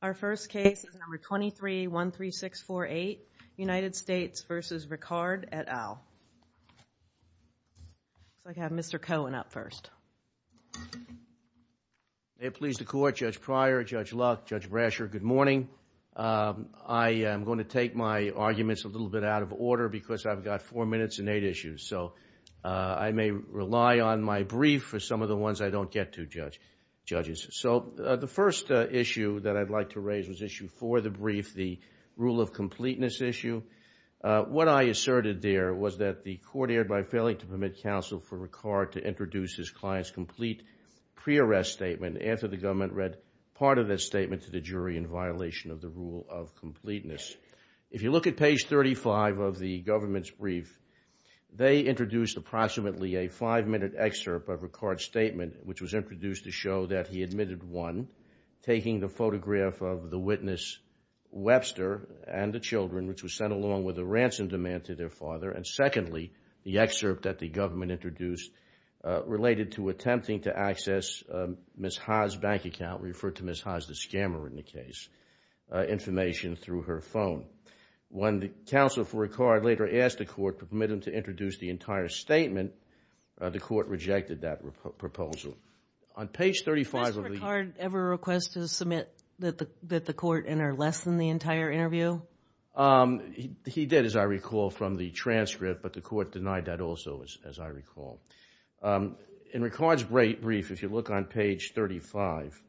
Our first case is number 2313648, United States v. Ricard et al. Looks like I have Mr. Cohen up first. May it please the Court, Judge Pryor, Judge Luck, Judge Brasher, good morning. I am going to take my arguments a little bit out of order because I've got four minutes and eight issues. So I may rely on my brief for some of the ones I don't get to, judges. So the first issue that I'd like to raise was issue 4 of the brief, the rule of completeness issue. What I asserted there was that the Court erred by failing to permit counsel for Ricard to introduce his client's complete pre-arrest statement after the government read part of that statement to the jury in violation of the rule of completeness. If you look at page 35 of the government's brief, they introduced approximately a five-minute excerpt of Ricard's statement, which was introduced to show that he admitted, one, taking the photograph of the witness Webster and the children, which was sent along with a ransom demand to their father. And secondly, the excerpt that the government introduced related to attempting to access Ms. Ha's bank account, referred to Ms. Ha as the scammer in the case, information through her phone. When the counsel for Ricard later asked the Court to permit him to introduce the entire statement, the Court rejected that proposal. On page 35 of the- Did Mr. Ricard ever request to submit that the Court enter less than the entire interview? He did, as I recall, from the transcript, but the Court denied that also, as I recall. In Ricard's brief, if you look on page 35,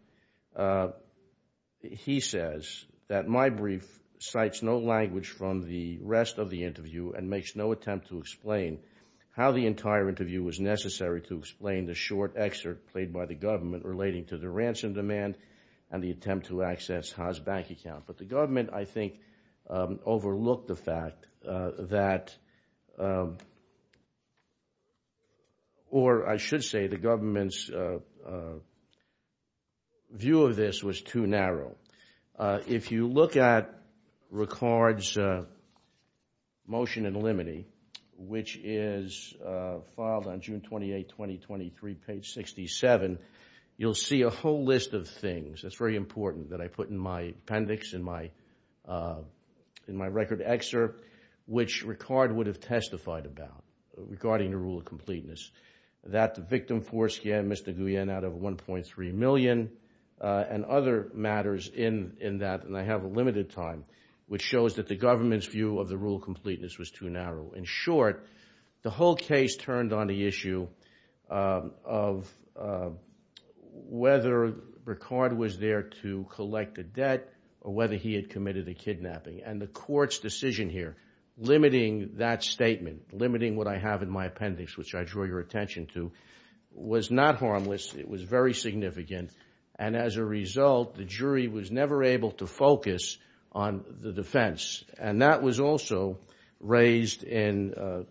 he says that my brief cites no language from the rest of the interview and makes no attempt to explain how the entire interview was necessary to explain the short excerpt played by the government relating to the ransom demand and the attempt to access Ha's bank account. But the government, I think, overlooked the fact that- or I should say the government's view of this was too narrow. If you look at Ricard's motion in limine, which is filed on June 28, 2023, page 67, you'll see a whole list of things. It's very important that I put in my appendix, in my record excerpt, which Ricard would have testified about regarding the rule of completeness. That the victim forced him, Mr. Guillen, out of $1.3 million and other matters in that. And I have a limited time, which shows that the government's view of the rule of completeness was too narrow. In short, the whole case turned on the issue of whether Ricard was there to collect the debt or whether he had committed a kidnapping. And the court's decision here, limiting that statement, limiting what I have in my appendix, which I draw your attention to, was not harmless. It was very significant. And as a result, the jury was never able to focus on the defense. And that was also raised in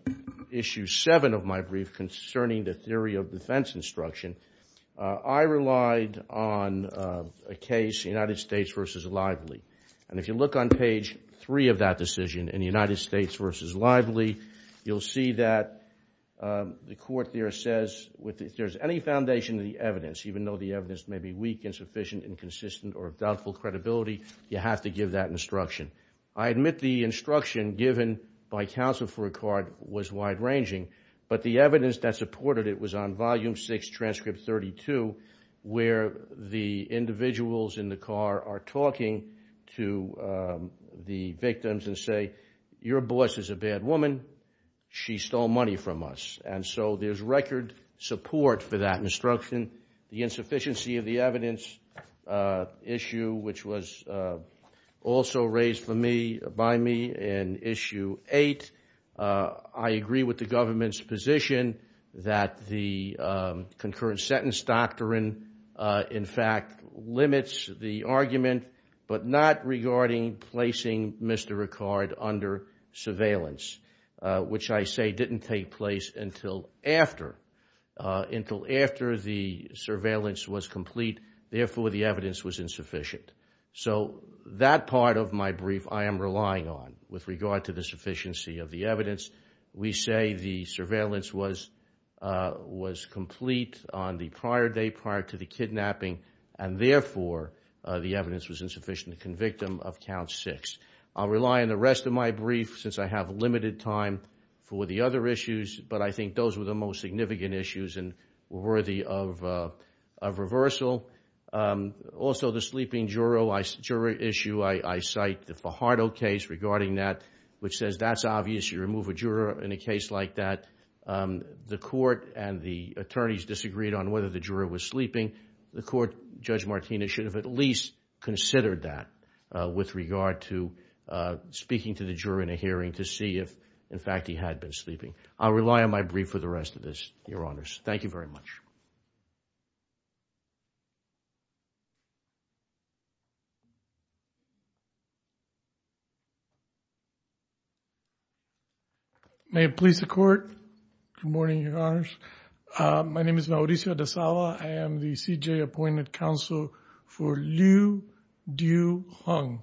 Issue 7 of my brief concerning the theory of defense instruction. I relied on a case, United States v. Lively. And if you look on page 3 of that decision, in United States v. Lively, you'll see that the court there says, if there's any foundation in the evidence, even though the evidence may be weak, insufficient, inconsistent, or of doubtful credibility, you have to give that instruction. I admit the instruction given by counsel for Ricard was wide-ranging, but the evidence that supported it was on Volume 6, Transcript 32, where the individuals in the car are talking to the victims and say, Your boss is a bad woman. She stole money from us. And so there's record support for that instruction. The insufficiency of the evidence issue, which was also raised by me in Issue 8, I agree with the government's position that the concurrent sentence doctrine, in fact, limits the argument, but not regarding placing Mr. Ricard under surveillance, which I say didn't take place until after the surveillance was complete, therefore the evidence was insufficient. So that part of my brief I am relying on with regard to the sufficiency of the evidence. We say the surveillance was complete on the prior day, prior to the kidnapping, and therefore the evidence was insufficient to convict him of Count 6. I'll rely on the rest of my brief since I have limited time for the other issues, but I think those were the most significant issues and worthy of reversal. Also, the sleeping juror issue, I cite the Fajardo case regarding that, which says that's obvious, you remove a juror in a case like that. The court and the attorneys disagreed on whether the juror was sleeping. The court, Judge Martinez, should have at least considered that with regard to speaking to the juror in a hearing to see if, in fact, he had been sleeping. I'll rely on my brief for the rest of this, Your Honors. Thank you very much. Thank you. May it please the Court. Good morning, Your Honors. My name is Mauricio De Sala. I am the CJA Appointment Counsel for Liu Duhong.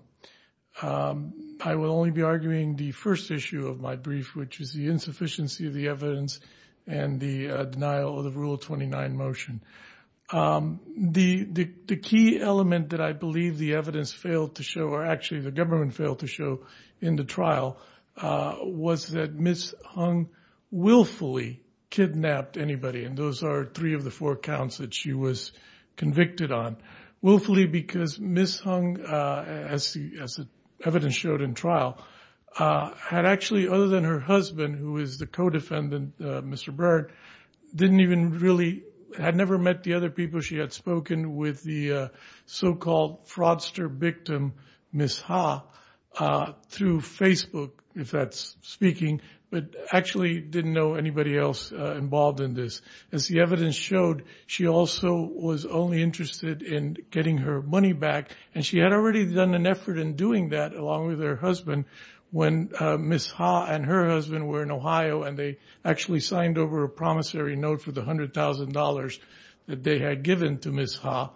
I will only be arguing the first issue of my brief, which is the insufficiency of the evidence and the denial of the Rule 29 motion. The key element that I believe the evidence failed to show, or actually the government failed to show in the trial, was that Ms. Hung willfully kidnapped anybody, and those are three of the four counts that she was convicted on. Willfully because Ms. Hung, as the evidence showed in trial, had actually, other than her husband, who is the co-defendant, Mr. Byrd, had never met the other people she had spoken with, the so-called fraudster victim, Ms. Ha, through Facebook, if that's speaking, but actually didn't know anybody else involved in this. As the evidence showed, she also was only interested in getting her money back, and she had already done an effort in doing that, along with her husband, when Ms. Ha and her husband were in Ohio, and they actually signed over a promissory note for the $100,000 that they had given to Ms. Ha,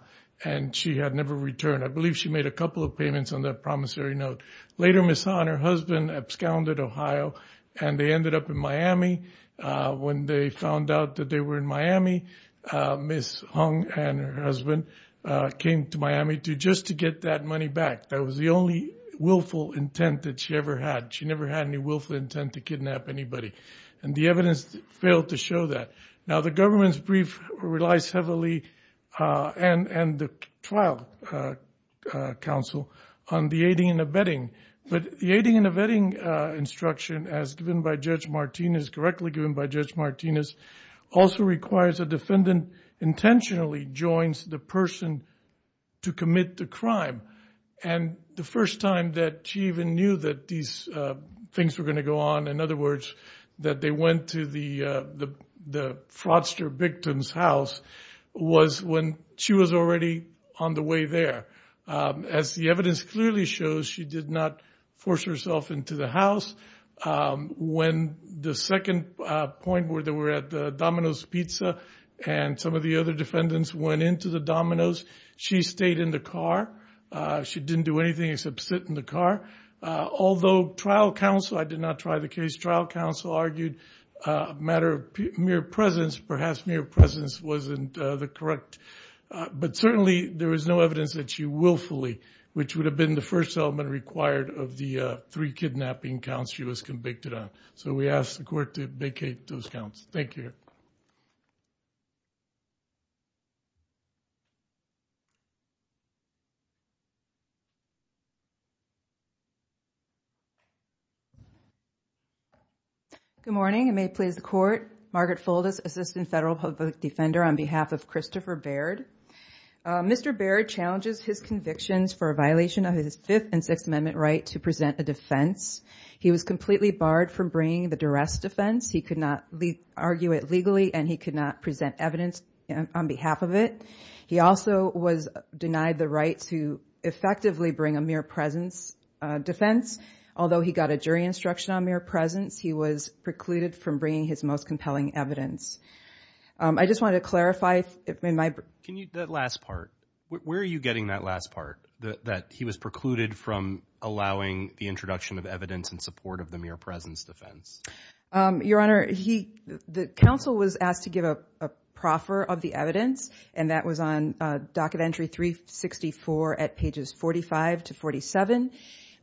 and she had never returned. I believe she made a couple of payments on that promissory note. Later, Ms. Ha and her husband absconded Ohio, and they ended up in Miami. When they found out that they were in Miami, Ms. Hung and her husband came to Miami just to get that money back. That was the only willful intent that she ever had. She never had any willful intent to kidnap anybody, and the evidence failed to show that. Now, the government's brief relies heavily, and the trial counsel, on the aiding and abetting, but the aiding and abetting instruction, as given by Judge Martinez, also requires a defendant intentionally joins the person to commit the crime. The first time that she even knew that these things were going to go on, in other words, that they went to the fraudster victim's house, was when she was already on the way there. As the evidence clearly shows, she did not force herself into the house. When the second point, where they were at the Domino's Pizza, and some of the other defendants went into the Domino's, she stayed in the car. She didn't do anything except sit in the car. Although trial counsel, I did not try the case, trial counsel argued a matter of mere presence, perhaps mere presence wasn't the correct, but certainly there was no evidence that she willfully, which would have been the first element required of the three kidnapping counts she was convicted on. So we ask the court to vacate those counts. Thank you. Good morning. I may please the court. Margaret Fuldis, Assistant Federal Public Defender, on behalf of Christopher Baird. Mr. Baird challenges his convictions for a violation of his Fifth and Sixth Amendment right to present a defense. He was completely barred from bringing the duress defense. He could not argue it legally, and he could not present evidence on behalf of it. He also was denied the right to effectively bring a mere presence defense. Although he got a jury instruction on mere presence, he was precluded from bringing his most compelling evidence. I just wanted to clarify. Can you, that last part, where are you getting that last part, that he was precluded from allowing the introduction of evidence in support of the mere presence defense? Your Honor, the counsel was asked to give a proffer of the evidence, and that was on Docket Entry 364 at pages 45 to 47.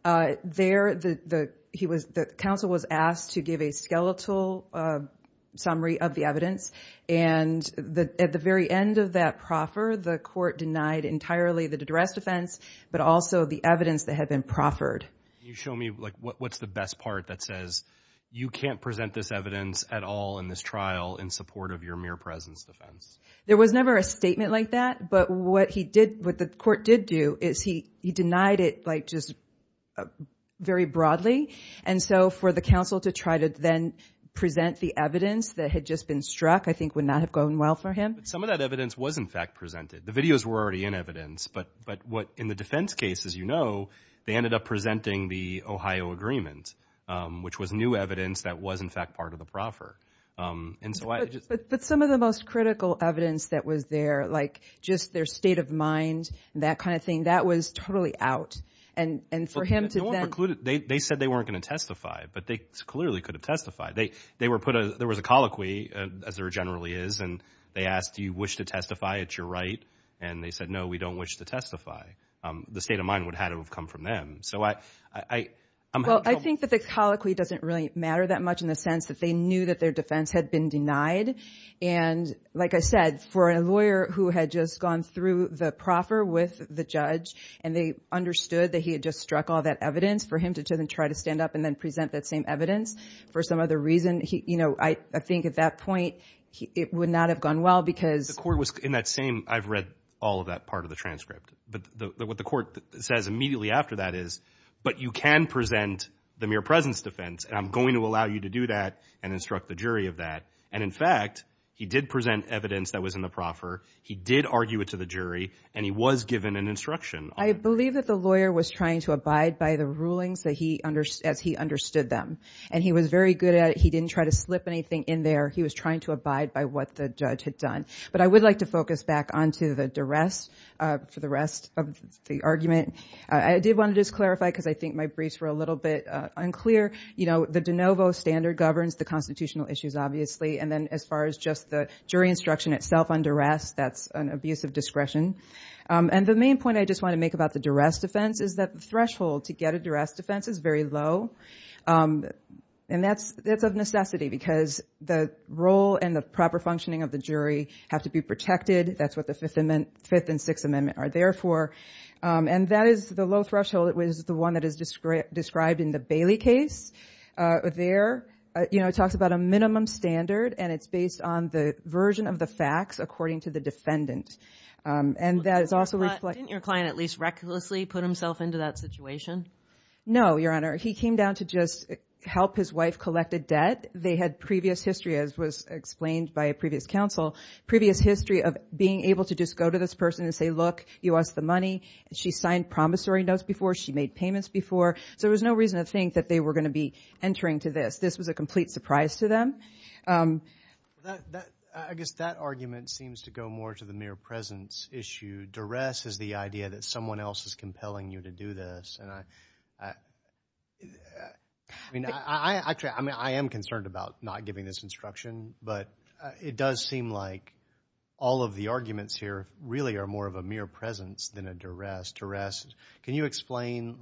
There, the counsel was asked to give a skeletal summary of the evidence, and at the very end of that proffer, the court denied entirely the duress defense, but also the evidence that had been proffered. Can you show me, like, what's the best part that says, you can't present this evidence at all in this trial in support of your mere presence defense? There was never a statement like that, but what he did, what the court did do, is he denied it, like, just very broadly, and so for the counsel to try to then present the evidence that had just been struck, I think would not have gone well for him. But some of that evidence was, in fact, presented. The videos were already in evidence, but what, in the defense case, as you know, they ended up presenting the Ohio agreement, which was new evidence that was, in fact, part of the proffer. But some of the most critical evidence that was there, like, just their state of mind, that kind of thing, that was totally out. And for him to then – They said they weren't going to testify, but they clearly could have testified. There was a colloquy, as there generally is, and they asked, do you wish to testify that you're right? And they said, no, we don't wish to testify. The state of mind would have had to have come from them. Well, I think that the colloquy doesn't really matter that much in the sense that they knew that their defense had been denied, and like I said, for a lawyer who had just gone through the proffer with the judge, and they understood that he had just struck all that evidence, for him to then try to stand up and then present that same evidence for some other reason, you know, I think at that point it would not have gone well because – The court was in that same – I've read all of that part of the transcript. But what the court says immediately after that is, but you can present the mere presence defense, and I'm going to allow you to do that and instruct the jury of that. And in fact, he did present evidence that was in the proffer. He did argue it to the jury, and he was given an instruction. I believe that the lawyer was trying to abide by the rulings as he understood them. And he was very good at it. He didn't try to slip anything in there. He was trying to abide by what the judge had done. But I would like to focus back onto the duress for the rest of the argument. I did want to just clarify because I think my briefs were a little bit unclear. You know, the de novo standard governs the constitutional issues, obviously. And then as far as just the jury instruction itself on duress, that's an abuse of discretion. And the main point I just want to make about the duress defense is that the threshold to get a duress defense is very low. And that's of necessity because the role and the proper functioning of the jury have to be protected. That's what the Fifth and Sixth Amendment are there for. And that is the low threshold. It was the one that is described in the Bailey case there. You know, it talks about a minimum standard, and it's based on the version of the facts according to the defendant. And that is also reflected. Didn't your client at least recklessly put himself into that situation? No, Your Honor. He came down to just help his wife collect a debt. They had previous history, as was explained by a previous counsel, previous history of being able to just go to this person and say, Hey, look, you owe us the money. She signed promissory notes before. She made payments before. So there was no reason to think that they were going to be entering to this. This was a complete surprise to them. I guess that argument seems to go more to the mere presence issue. Duress is the idea that someone else is compelling you to do this. I am concerned about not giving this instruction, but it does seem like all of the arguments here really are more of a mere presence than a duress. Can you explain,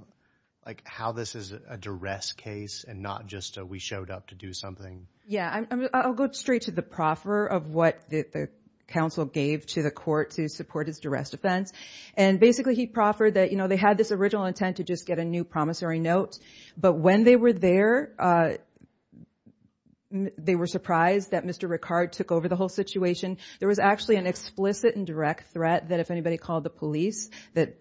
like, how this is a duress case and not just a we showed up to do something? Yeah. I'll go straight to the proffer of what the counsel gave to the court to support his duress defense. And basically he proffered that, you know, they had this original intent to just get a new promissory note. But when they were there, they were surprised that Mr. Ricard took over the whole situation. There was actually an explicit and direct threat that if anybody called the police that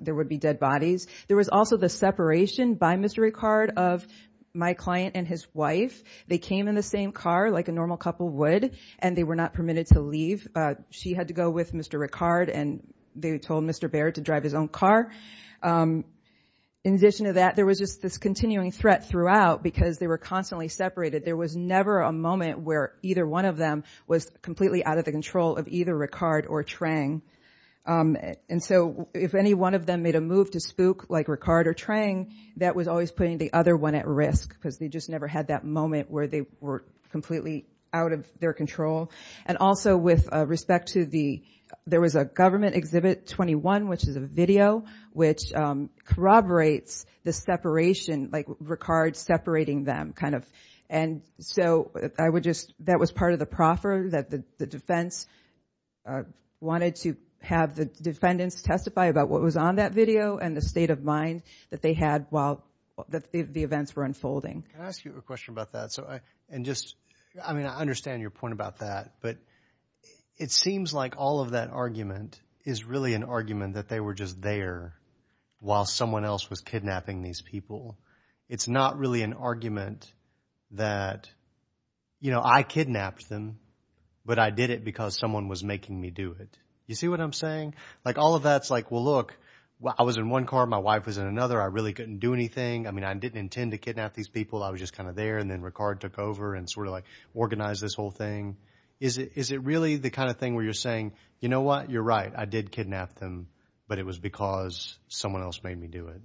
there would be dead bodies. There was also the separation by Mr. Ricard of my client and his wife. They came in the same car like a normal couple would, and they were not permitted to leave. She had to go with Mr. Ricard, and they told Mr. Baird to drive his own car. In addition to that, there was just this continuing threat throughout because they were constantly separated. There was never a moment where either one of them was completely out of the control of either Ricard or Trang. And so if any one of them made a move to spook like Ricard or Trang, that was always putting the other one at risk because they just never had that moment where they were completely out of their control. And also with respect to the there was a government exhibit 21, which is a video, which corroborates the separation, like Ricard separating them kind of. And so that was part of the proffer, that the defense wanted to have the defendants testify about what was on that video and the state of mind that they had while the events were unfolding. Can I ask you a question about that? I mean, I understand your point about that, but it seems like all of that argument is really an argument that they were just there while someone else was kidnapping these people. It's not really an argument that I kidnapped them, but I did it because someone was making me do it. You see what I'm saying? Like all of that's like, well, look, I was in one car. My wife was in another. I really couldn't do anything. I mean, I didn't intend to kidnap these people. I was just kind of there. And then Ricard took over and sort of like organized this whole thing. Is it really the kind of thing where you're saying, you know what? You're right. I did kidnap them, but it was because someone else made me do it.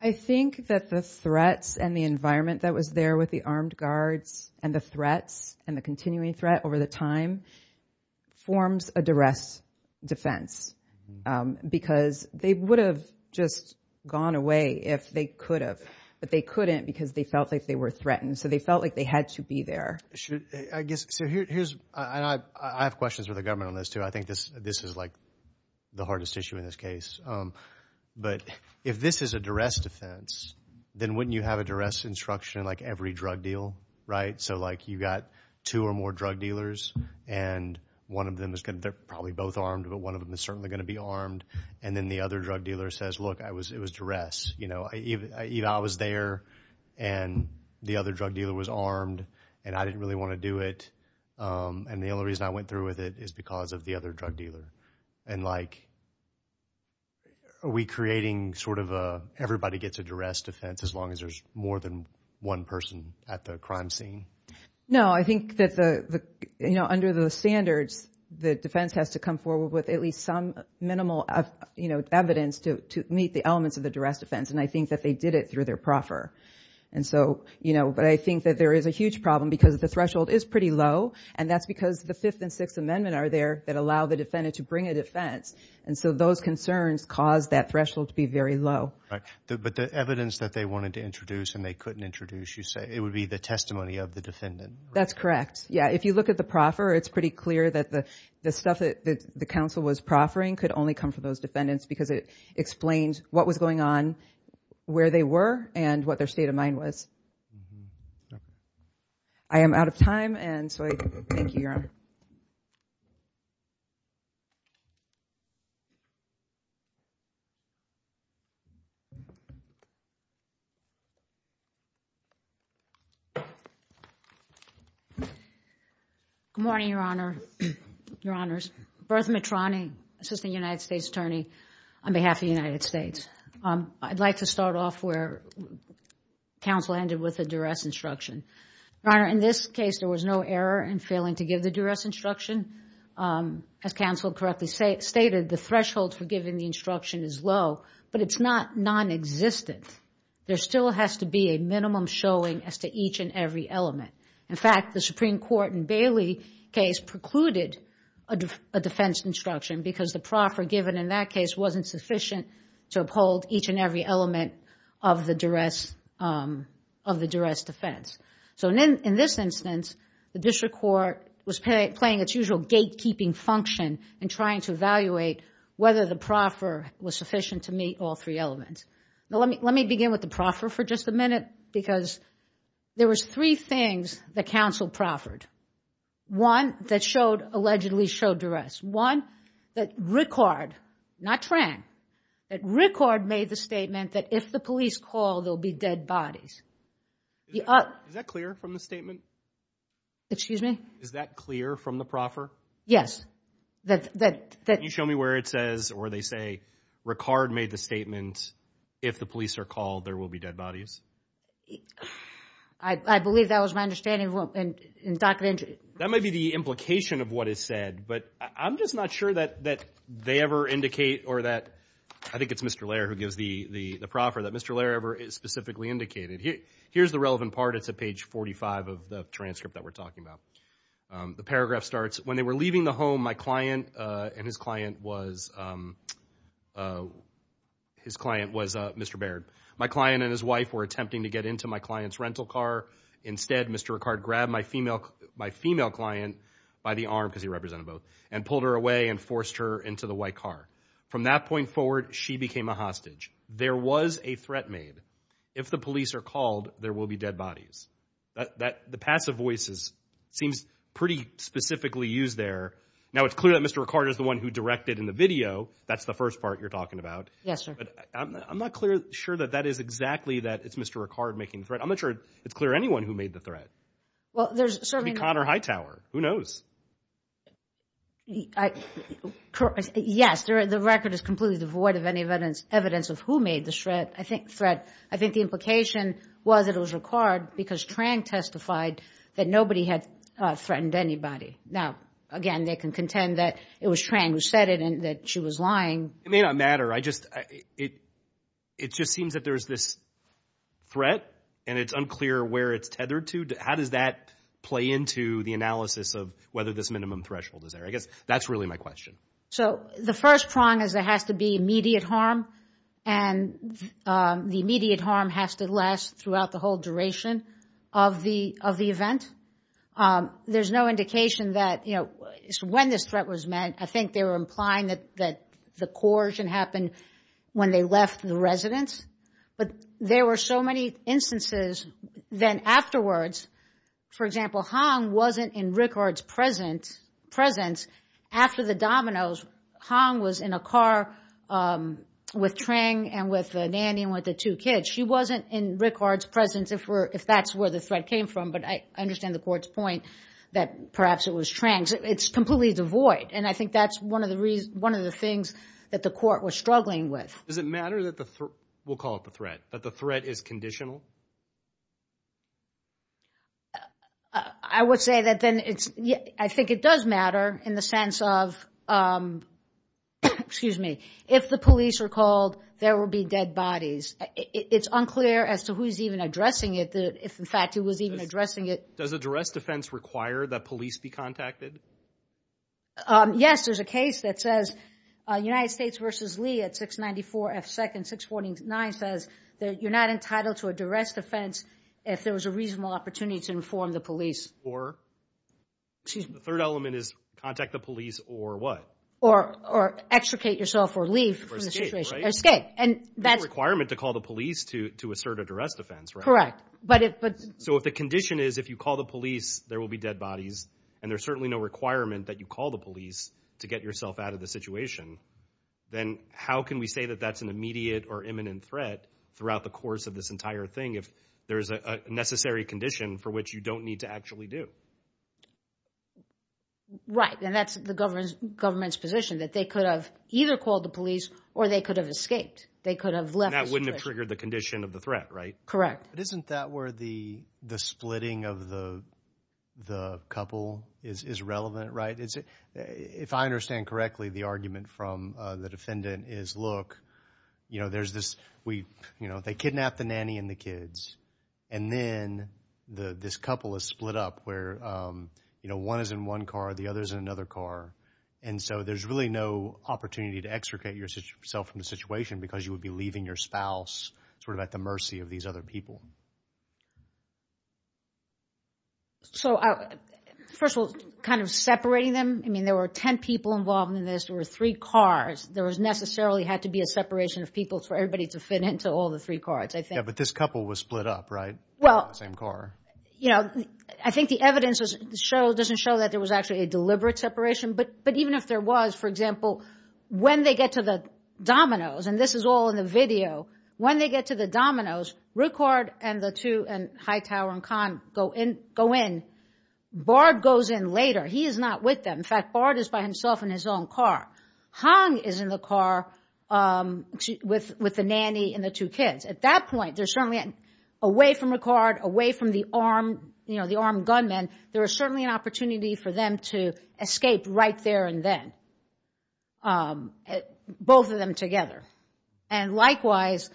I think that the threats and the environment that was there with the armed guards and the threats and the continuing threat over the time forms a duress defense because they would have just gone away if they could have, but they couldn't because they felt like they were threatened. So they felt like they had to be there. I have questions for the government on this, too. I think this is like the hardest issue in this case. But if this is a duress defense, then wouldn't you have a duress instruction like every drug deal, right? So like you've got two or more drug dealers, and one of them is probably both armed, but one of them is certainly going to be armed. And then the other drug dealer says, look, it was duress. I was there, and the other drug dealer was armed, and I didn't really want to do it. And the only reason I went through with it is because of the other drug dealer. And like are we creating sort of a everybody gets a duress defense as long as there's more than one person at the crime scene? No, I think that under the standards, the defense has to come forward with at least some minimal evidence to meet the elements of the duress defense. And I think that they did it through their proffer. And so, you know, but I think that there is a huge problem because the threshold is pretty low, and that's because the Fifth and Sixth Amendment are there that allow the defendant to bring a defense. And so those concerns cause that threshold to be very low. But the evidence that they wanted to introduce and they couldn't introduce, you say, it would be the testimony of the defendant. That's correct. Yeah, if you look at the proffer, it's pretty clear that the stuff that the counsel was proffering could only come from those defendants because it explains what was going on, where they were, and what their state of mind was. I am out of time, and so I thank you, Your Honor. Good morning, Your Honor, Your Honors. Bertha Mitrani, Assistant United States Attorney, on behalf of the United States. I'd like to start off where counsel ended with a duress instruction. Your Honor, in this case, there was no error in failing to give the duress instruction. As counsel correctly stated, the threshold for giving the instruction is low, but it's not nonexistent. There still has to be a minimum showing as to each and every element. In fact, the Supreme Court in Bailey's case precluded a defense instruction because the proffer given in that case wasn't sufficient to uphold each and every element of the duress defense. In this instance, the district court was playing its usual gatekeeping function in trying to evaluate whether the proffer was sufficient to meet all three elements. Let me begin with the proffer for just a minute because there was three things that counsel proffered. One, that allegedly showed duress. One, that Rickard, not Trang, that Rickard made the statement that if the police call, there'll be dead bodies. Is that clear from the statement? Excuse me? Is that clear from the proffer? Yes. Can you show me where it says, or they say, Rickard made the statement, if the police are called, there will be dead bodies? I believe that was my understanding. That may be the implication of what is said, but I'm just not sure that they ever indicate or that, I think it's Mr. Laird who gives the proffer, that Mr. Laird ever specifically indicated. Here's the relevant part. It's at page 45 of the transcript that we're talking about. The paragraph starts, when they were leaving the home, my client and his client was, his client was Mr. Baird. My client and his wife were attempting to get into my client's rental car. Instead, Mr. Rickard grabbed my female client by the arm, because he represented both, and pulled her away and forced her into the white car. From that point forward, she became a hostage. There was a threat made. If the police are called, there will be dead bodies. The passive voices seems pretty specifically used there. Now, it's clear that Mr. Rickard is the one who directed in the video. That's the first part you're talking about. Yes, sir. I'm not sure that that is exactly that it's Mr. Rickard making the threat. I'm not sure it's clear anyone who made the threat. It could be Connor Hightower. Who knows? Yes, the record is completely devoid of any evidence of who made the threat. I think the implication was that it was Rickard, because Trang testified that nobody had threatened anybody. Now, again, they can contend that it was Trang who said it, and that she was lying. It may not matter. It just seems that there's this threat, and it's unclear where it's tethered to. How does that play into the analysis of whether this minimum threshold is there? I guess that's really my question. So, the first prong is there has to be immediate harm, and the immediate harm has to last throughout the whole duration of the event. There's no indication that when this threat was met, I think they were implying that the coercion happened when they left the residence. But there were so many instances then afterwards. For example, Hong wasn't in Rickard's presence after the dominoes. Hong was in a car with Trang and with the nanny and with the two kids. She wasn't in Rickard's presence if that's where the threat came from, but I understand the court's point that perhaps it was Trang's. It's completely devoid, and I think that's one of the things that the court was struggling with. Does it matter that the threat is conditional? I would say that then it's, I think it does matter in the sense of, excuse me, if the police are called, there will be dead bodies. It's unclear as to who's even addressing it, if in fact it was even addressing it. Does a duress defense require that police be contacted? Yes, there's a case that says United States v. Lee at 694 F. Second 649 says that you're not entitled to a duress defense if there was a reasonable opportunity to inform the police. Or the third element is contact the police or what? Or extricate yourself or leave. Or escape, right? There's no requirement to call the police to assert a duress defense, right? Correct. So if the condition is if you call the police, there will be dead bodies, and there's certainly no requirement that you call the police to get yourself out of the situation, then how can we say that that's an immediate or imminent threat throughout the course of this entire thing if there's a necessary condition for which you don't need to actually do? Right, and that's the government's position, that they could have either called the police or they could have escaped. They could have left the situation. And that wouldn't have triggered the condition of the threat, right? Correct. But isn't that where the splitting of the couple is relevant, right? If I understand correctly, the argument from the defendant is, look, they kidnapped the nanny and the kids, and then this couple is split up where one is in one car, the other is in another car. And so there's really no opportunity to extricate yourself from the situation because you would be leaving your spouse sort of at the mercy of these other people. So first of all, kind of separating them. I mean, there were 10 people involved in this. There were three cars. There necessarily had to be a separation of people for everybody to fit into all the three cars, I think. Yeah, but this couple was split up, right, in the same car? Well, you know, I think the evidence doesn't show that there was actually a deliberate separation. But even if there was, for example, when they get to the dominoes, and this is all in the video, when they get to the dominoes, where Ricard and the two in Hightower and Kahn go in, Bard goes in later. He is not with them. In fact, Bard is by himself in his own car. Hahn is in the car with the nanny and the two kids. At that point, they're certainly away from Ricard, away from the armed gunmen. There was certainly an opportunity for them to escape right there and then, both of them together. And likewise,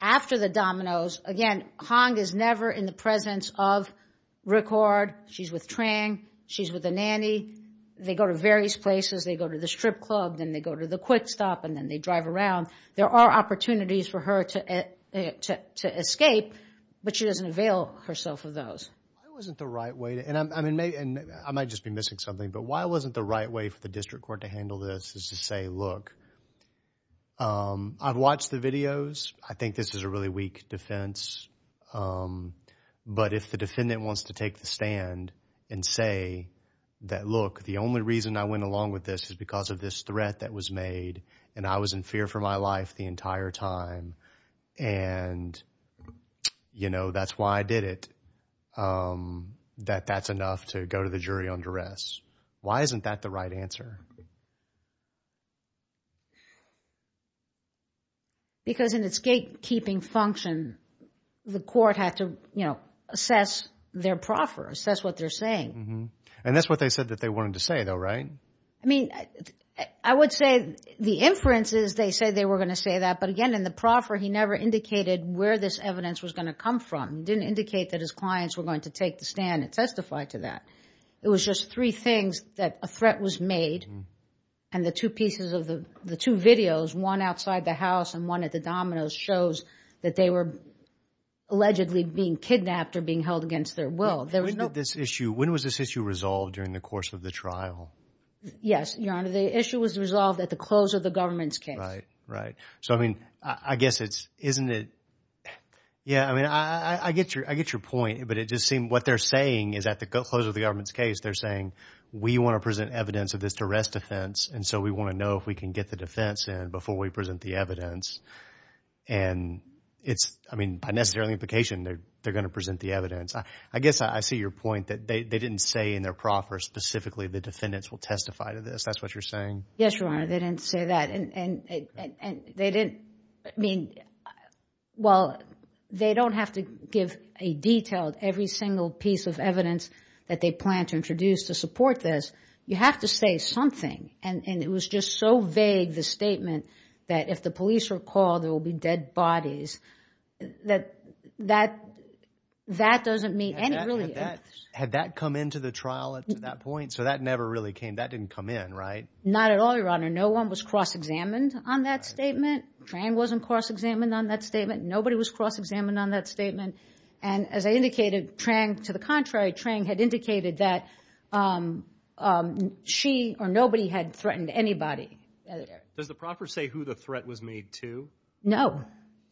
after the dominoes, again, Hahn is never in the presence of Ricard. She's with Trang. She's with the nanny. They go to various places. They go to the strip club. Then they go to the quick stop, and then they drive around. There are opportunities for her to escape, but she doesn't avail herself of those. Why wasn't the right way to, and I might just be missing something, but why wasn't the right way for the district court to handle this is to say, look, I've watched the videos. I think this is a really weak defense. But if the defendant wants to take the stand and say that, look, the only reason I went along with this is because of this threat that was made and I was in fear for my life the entire time and that's why I did it, that that's enough to go to the jury on duress. Why isn't that the right answer? Because in its gatekeeping function, the court had to assess their proffer, assess what they're saying. And that's what they said that they wanted to say, though, right? I mean, I would say the inferences, they say they were going to say that, but again, in the proffer, he never indicated where this evidence was going to come from. He didn't indicate that his clients were going to take the stand and testify to that. It was just three things that a threat was made and the two pieces of the two videos, one outside the house and one at the dominoes, shows that they were allegedly being kidnapped or being held against their will. When was this issue resolved during the course of the trial? Yes, Your Honor, the issue was resolved at the close of the government's case. Right, right. So, I mean, I guess it's, isn't it, yeah, I mean, I get your point, but it just seemed, what they're saying is at the close of the government's case, they're saying, we want to present evidence of this arrest offense and so we want to know if we can get the defense in before we present the evidence. And it's, I mean, by necessary implication, they're going to present the evidence. I guess I see your point that they didn't say in their proffer specifically the defendants will testify to this. That's what you're saying? Yes, Your Honor, they didn't say that. And they didn't, I mean, well, they don't have to give a detailed, every single piece of evidence that they plan to introduce to support this. You have to say something. And it was just so vague, the statement, that if the police are called, there will be dead bodies. That doesn't mean anything. Had that come into the trial at that point? So that never really came, that didn't come in, right? Not at all, Your Honor. No one was cross-examined on that statement. Trang wasn't cross-examined on that statement. Nobody was cross-examined on that statement. And as I indicated, Trang, to the contrary, Trang had indicated that she or nobody had threatened anybody. Does the proffer say who the threat was made to? No.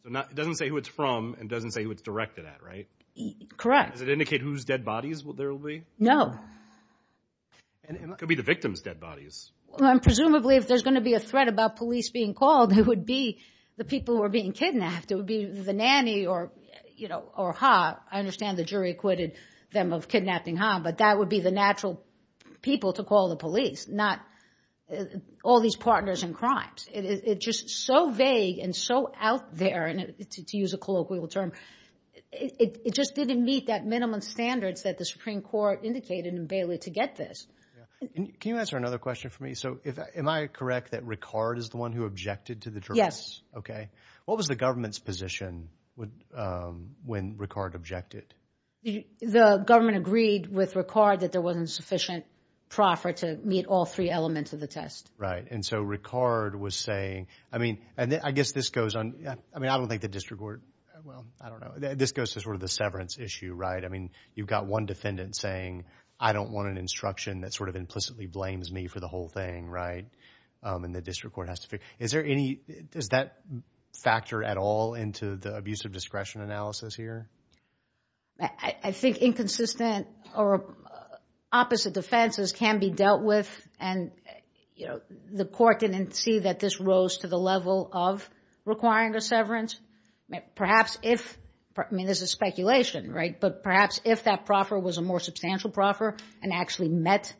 It doesn't say who it's from, and it doesn't say who it's directed at, right? Correct. Does it indicate whose dead bodies there will be? No. It could be the victim's dead bodies. Well, presumably, if there's going to be a threat about police being called, it would be the people who are being kidnapped. It would be the nanny or Ha. I understand the jury acquitted them of kidnapping Ha, but that would be the natural people to call the police, not all these partners in crimes. It's just so vague and so out there, to use a colloquial term, it just didn't meet that minimum standards that the Supreme Court indicated in Bailey to get this. Can you answer another question for me? So am I correct that Ricard is the one who objected to the jury? Okay. What was the government's position when Ricard objected? The government agreed with Ricard that there wasn't sufficient proffer to meet all three elements of the test. Right, and so Ricard was saying, I mean, I guess this goes on, I mean, I don't think the district court, well, I don't know, this goes to sort of the severance issue, right? I mean, you've got one defendant saying, I don't want an instruction that sort of implicitly blames me for the whole thing, right? And the district court has to figure, is there any, does that factor at all into the abuse of discretion analysis here? I think inconsistent or opposite defenses can be dealt with, and, you know, the court didn't see that this rose to the level of requiring a severance. Perhaps if, I mean, this is speculation, right? But perhaps if that proffer was a more substantial proffer and actually met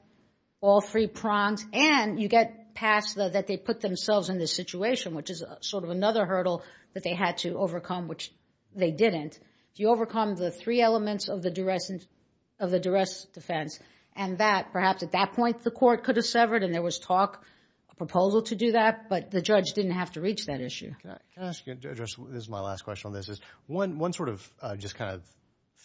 all three prongs, and you get past that they put themselves in this situation, which is sort of another hurdle that they had to overcome, which they didn't, you overcome the three elements of the duress defense, and that, perhaps at that point, the court could have severed and there was talk, a proposal to do that, but the judge didn't have to reach that issue. Can I ask you, this is my last question on this, because one sort of just kind of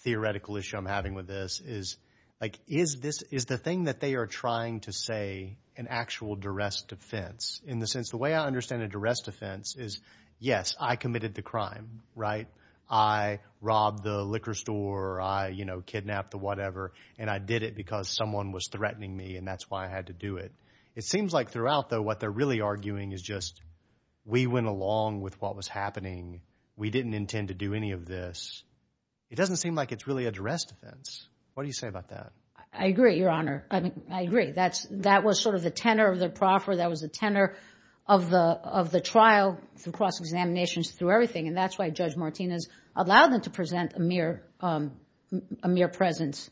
theoretical issue I'm having with this is, like, is the thing that they are trying to say an actual duress defense, in the sense the way I understand a duress defense is, yes, I committed the crime, right? I robbed the liquor store, I, you know, kidnapped the whatever, and I did it because someone was threatening me, and that's why I had to do it. It seems like throughout, though, what they're really arguing is just we went along with what was happening. We didn't intend to do any of this. It doesn't seem like it's really a duress defense. What do you say about that? I agree, Your Honor. I mean, I agree. That was sort of the tenor of the proffer. That was the tenor of the trial through cross-examinations, through everything, and that's why Judge Martinez allowed them to present a mere presence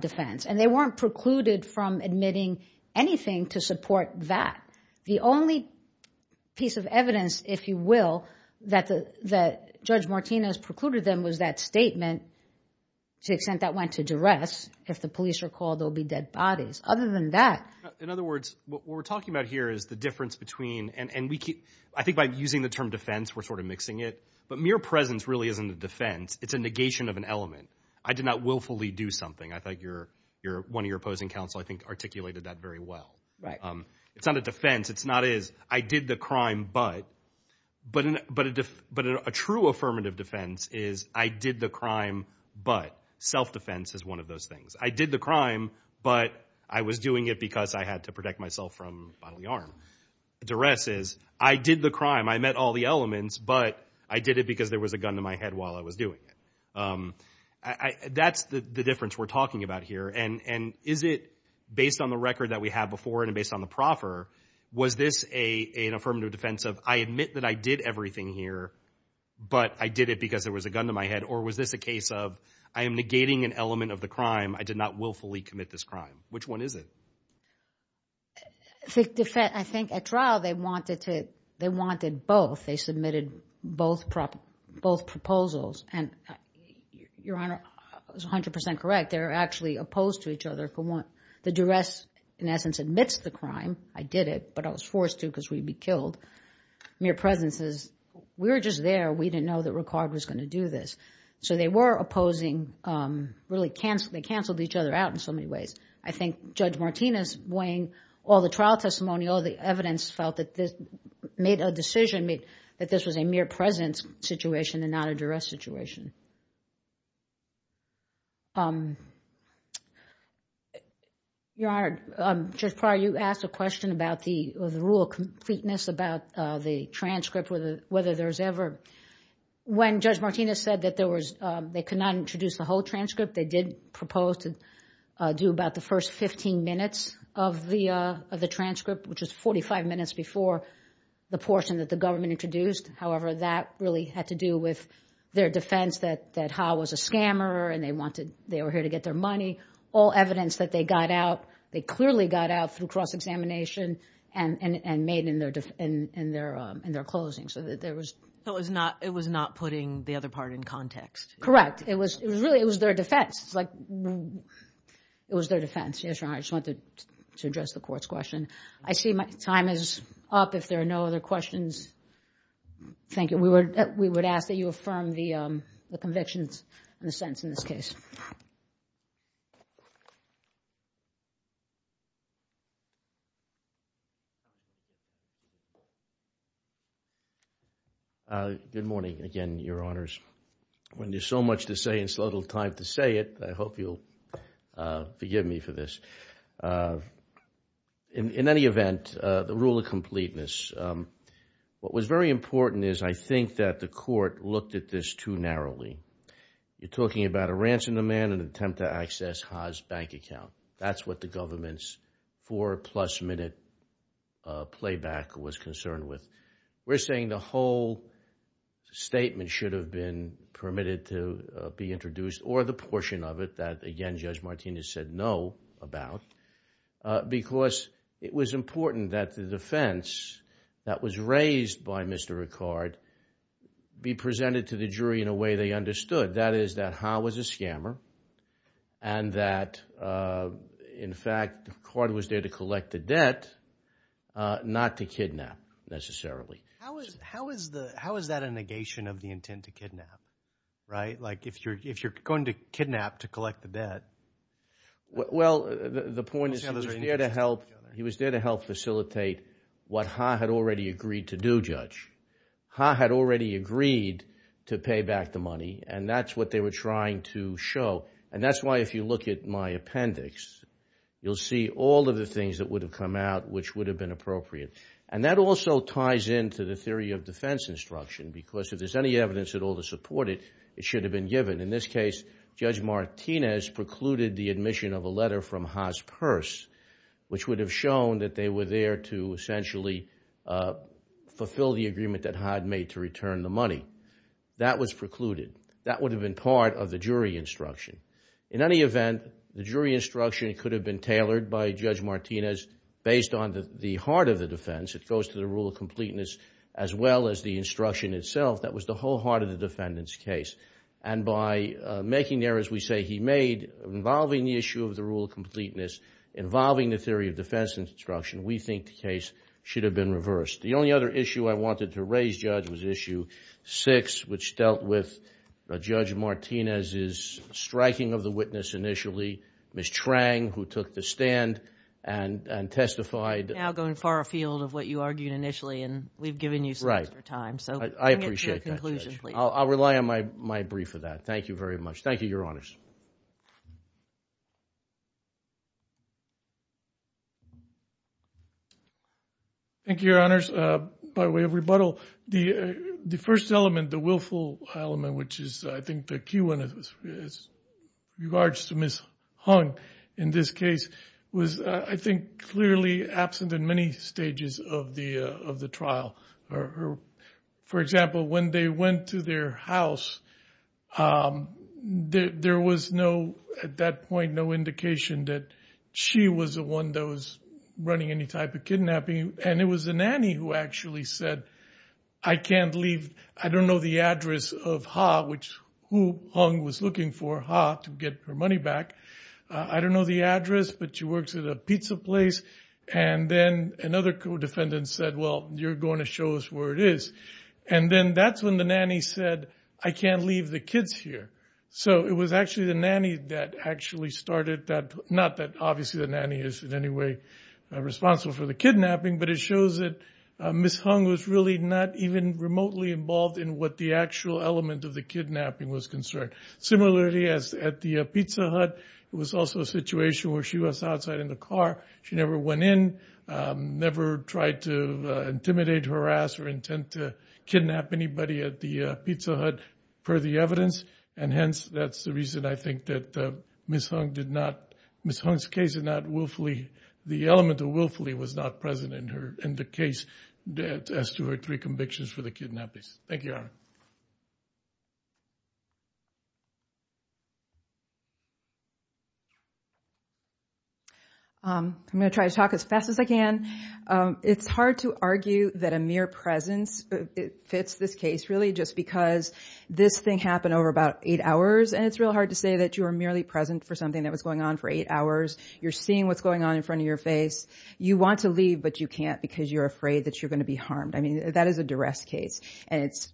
defense, and they weren't precluded from admitting anything to support that. The only piece of evidence, if you will, that Judge Martinez precluded them was that statement to the extent that went to duress. If the police are called, there will be dead bodies. Other than that... In other words, what we're talking about here is the difference between, and I think by using the term defense, we're sort of mixing it, but mere presence really isn't a defense. It's a negation of an element. I did not willfully do something. I think one of your opposing counsel I think articulated that very well. It's not a defense. It's not as, I did the crime, but... But a true affirmative defense is, I did the crime, but... Self-defense is one of those things. I did the crime, but I was doing it because I had to protect myself from bodily harm. Duress is, I did the crime, I met all the elements, but I did it because there was a gun to my head while I was doing it. That's the difference we're talking about here, and is it based on the record that we have before and based on the proffer, was this an affirmative defense of, I admit that I did everything here, but I did it because there was a gun to my head, or was this a case of, I am negating an element of the crime. I did not willfully commit this crime. Which one is it? I think at trial, they wanted both. They submitted both proposals, and Your Honor is 100% correct. They're actually opposed to each other. The duress, in essence, admits the crime. I did it, but I was forced to because we'd be killed. Mere presence is, we were just there, we didn't know that Ricard was going to do this. So they were opposing, really they canceled each other out in so many ways. I think Judge Martinez weighing all the trial testimony, all the evidence felt that this made a decision, that this was a mere presence situation and not a duress situation. Your Honor, Judge Pryor, you asked a question about the rule completeness, about the transcript, whether there's ever... When Judge Martinez said that there was, they could not introduce the whole transcript, they did propose to do about the first 15 minutes of the transcript, which was 45 minutes before the portion that the government introduced. However, that really had to do with their defense that Ha was a scammer, and they were here to get their money. All evidence that they got out, they clearly got out through cross-examination and made in their closing, so that there was... It was not putting the other part in context. Correct. It was really, it was their defense. It was their defense. Yes, Your Honor, I just wanted to address the court's question. I see my time is up. If there are no other questions, thank you. We would ask that you affirm the convictions and the sentence in this case. Good morning again, Your Honors. When there's so much to say, it's little time to say it. I hope you'll forgive me for this. In any event, the rule of completeness, what was very important is, I think that the court looked at this too narrowly. You're talking about a ransom demand and an attempt to access Ha's bank account. That's what the government did. Four-plus-minute playback was concerned with. We're saying the whole statement should have been permitted to be introduced, or the portion of it that, again, Judge Martinez said no about, because it was important that the defense that was raised by Mr. Ricard be presented to the jury in a way they understood. That is, that Ha was a scammer and that, in fact, Ricard was there to collect the debt, not to kidnap, necessarily. How is that a negation of the intent to kidnap, right? Like, if you're going to kidnap to collect the debt... Well, the point is he was there to help facilitate what Ha had already agreed to do, Judge. Ha had already agreed to pay back the money, and that's what they were trying to show. And that's why, if you look at my appendix, you'll see all of the things that would have come out which would have been appropriate. And that also ties in to the theory of defense instruction, because if there's any evidence at all to support it, it should have been given. In this case, Judge Martinez precluded the admission of a letter from Ha's purse, which would have shown that they were there to essentially fulfill the agreement that Ha had made to return the money. That was precluded. That would have been part of the jury instruction. In any event, the jury instruction could have been tailored by Judge Martinez based on the heart of the defense. It goes to the rule of completeness as well as the instruction itself. That was the whole heart of the defendant's case. And by making the errors we say he made involving the issue of the rule of completeness, involving the theory of defense instruction, we think the case should have been reversed. The only other issue I wanted to raise, Judge, was Issue 6, which dealt with Judge Martinez's striking of the witness initially, Ms. Trang, who took the stand and testified. You're now going far afield of what you argued initially, and we've given you some extra time. I appreciate that, Judge. I'll rely on my brief for that. Thank you very much. Thank you, Your Honors. Thank you, Your Honors. By way of rebuttal, the first element, the willful element, which is, I think, the key one as regards to Ms. Hung in this case, was, I think, clearly absent in many stages of the trial. For example, when they went to their house, there was no, at that point, no indication that she was the one that was running any type of kidnapping. And it was the nanny who actually said, I can't leave. I don't know the address of Ha, which who Hung was looking for Ha to get her money back. I don't know the address, but she works at a pizza place. And then another co-defendant said, well, you're going to show us where it is. And then that's when the nanny said, I can't leave the kids here. So it was actually the nanny that actually started that, not that obviously the nanny is in any way responsible for the kidnapping, but it shows that Ms. Hung was really not even remotely involved in what the actual element of the kidnapping was concerned. Similarly, at the pizza hut, it was also a situation where she was outside in the car. She never went in, never tried to intimidate, harass, or intend to kidnap anybody at the pizza hut, per the evidence. And hence, that's the reason I think that Ms. Hung did not, Ms. Hung's case did not willfully, the element of willfully was not present in her, in the case that as to her three convictions for the kidnappings. Thank you, Aaron. I'm going to try to talk as fast as I can. It's hard to argue that a mere presence fits this case really, just because this thing happened over about eight hours. And it's real hard to say that you were merely present for something that was going on for eight hours. You're seeing what's going on in front of your face. You want to leave, but you can't, because you're afraid that you're going to be harmed. I mean, that is a duress case, and it's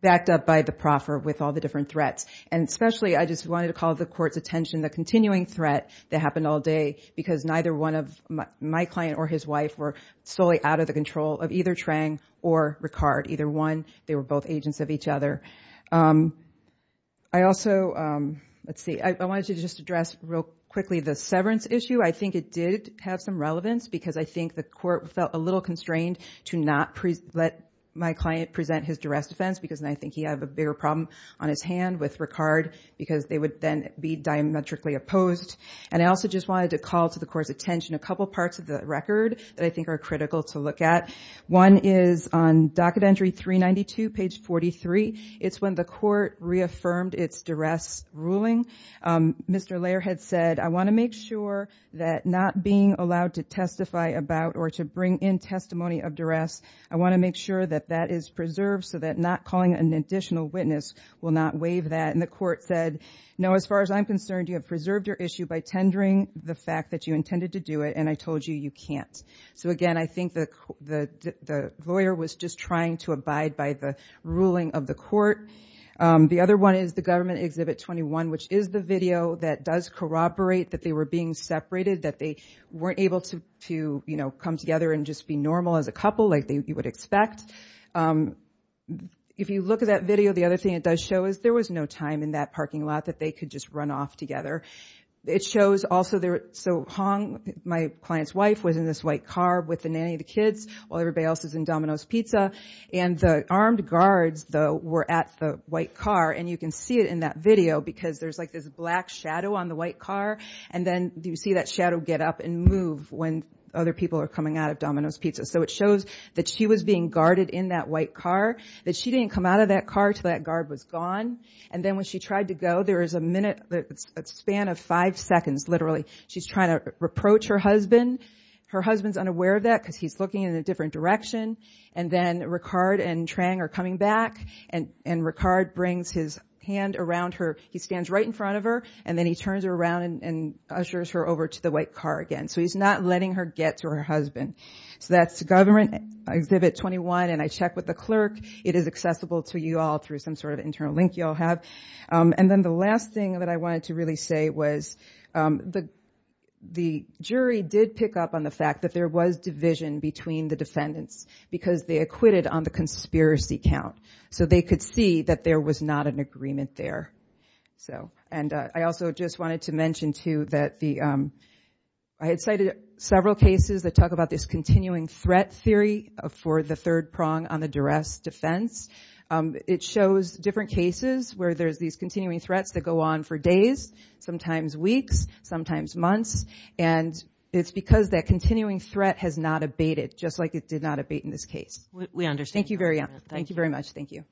backed up by the proffer with all the different threats. And especially, I just wanted to call the court's attention the continuing threat that happened all day, because neither one of my client or his wife were solely out of the control of either Trang or Ricard. Either one, they were both agents of each other. I also wanted to just address real quickly the severance issue. I think it did have some relevance, because I think the court felt a little constrained to not let my client present his duress defense, because I think he had a bigger problem on his hand with Ricard, because they would then be diametrically opposed. And I also just wanted to call to the court's attention a couple parts of the record that I think are critical to look at. One is on docket entry 392, page 43. It's when the court reaffirmed its duress ruling. Mr. Lehrer had said, I want to make sure that not being allowed to testify about or to bring in testimony of duress, I want to make sure that that is preserved so that not calling an additional witness will not waive that. And the court said, no, as far as I'm concerned, you have preserved your issue by tendering the fact that you intended to do it, and I told you you can't. So, again, I think the lawyer was just trying to abide by the ruling of the court. The other one is the Government Exhibit 21, which is the video that does corroborate that they were being separated, that they weren't able to come together and just be normal as a couple like you would expect. If you look at that video, the other thing it does show is there was no time in that parking lot that they could just run off together. It shows also, so Hong, my client's wife, was in this white car with the nanny of the kids while everybody else was in Domino's Pizza. And the armed guards, though, were at the white car. And you can see it in that video because there's like this black shadow on the white car. And then you see that shadow get up and move when other people are coming out of Domino's Pizza. So it shows that she was being guarded in that white car, that she didn't come out of that car until that guard was gone. And then when she tried to go, there was a minute, a span of five seconds, literally, she's trying to reproach her husband. Her husband's unaware of that because he's looking in a different direction. And then Ricard and Trang are coming back. And Ricard brings his hand around her. He stands right in front of her. And then he turns around and ushers her over to the white car again. So he's not letting her get to her husband. So that's Government Exhibit 21. And I checked with the clerk. It is accessible to you all through some sort of internal link you'll have. And then the last thing that I wanted to really say was the jury did pick up on the fact that there was division between the defendants because they acquitted on the conspiracy count. So they could see that there was not an agreement there. And I also just wanted to mention, too, that I had cited several cases that talk about this continuing threat theory for the third prong on the duress defense. It shows different cases where there's these continuing threats that go on for days, sometimes weeks, sometimes months. And it's because that continuing threat has not abated just like it did not abate in this case. We understand. Thank you very much. Thank you.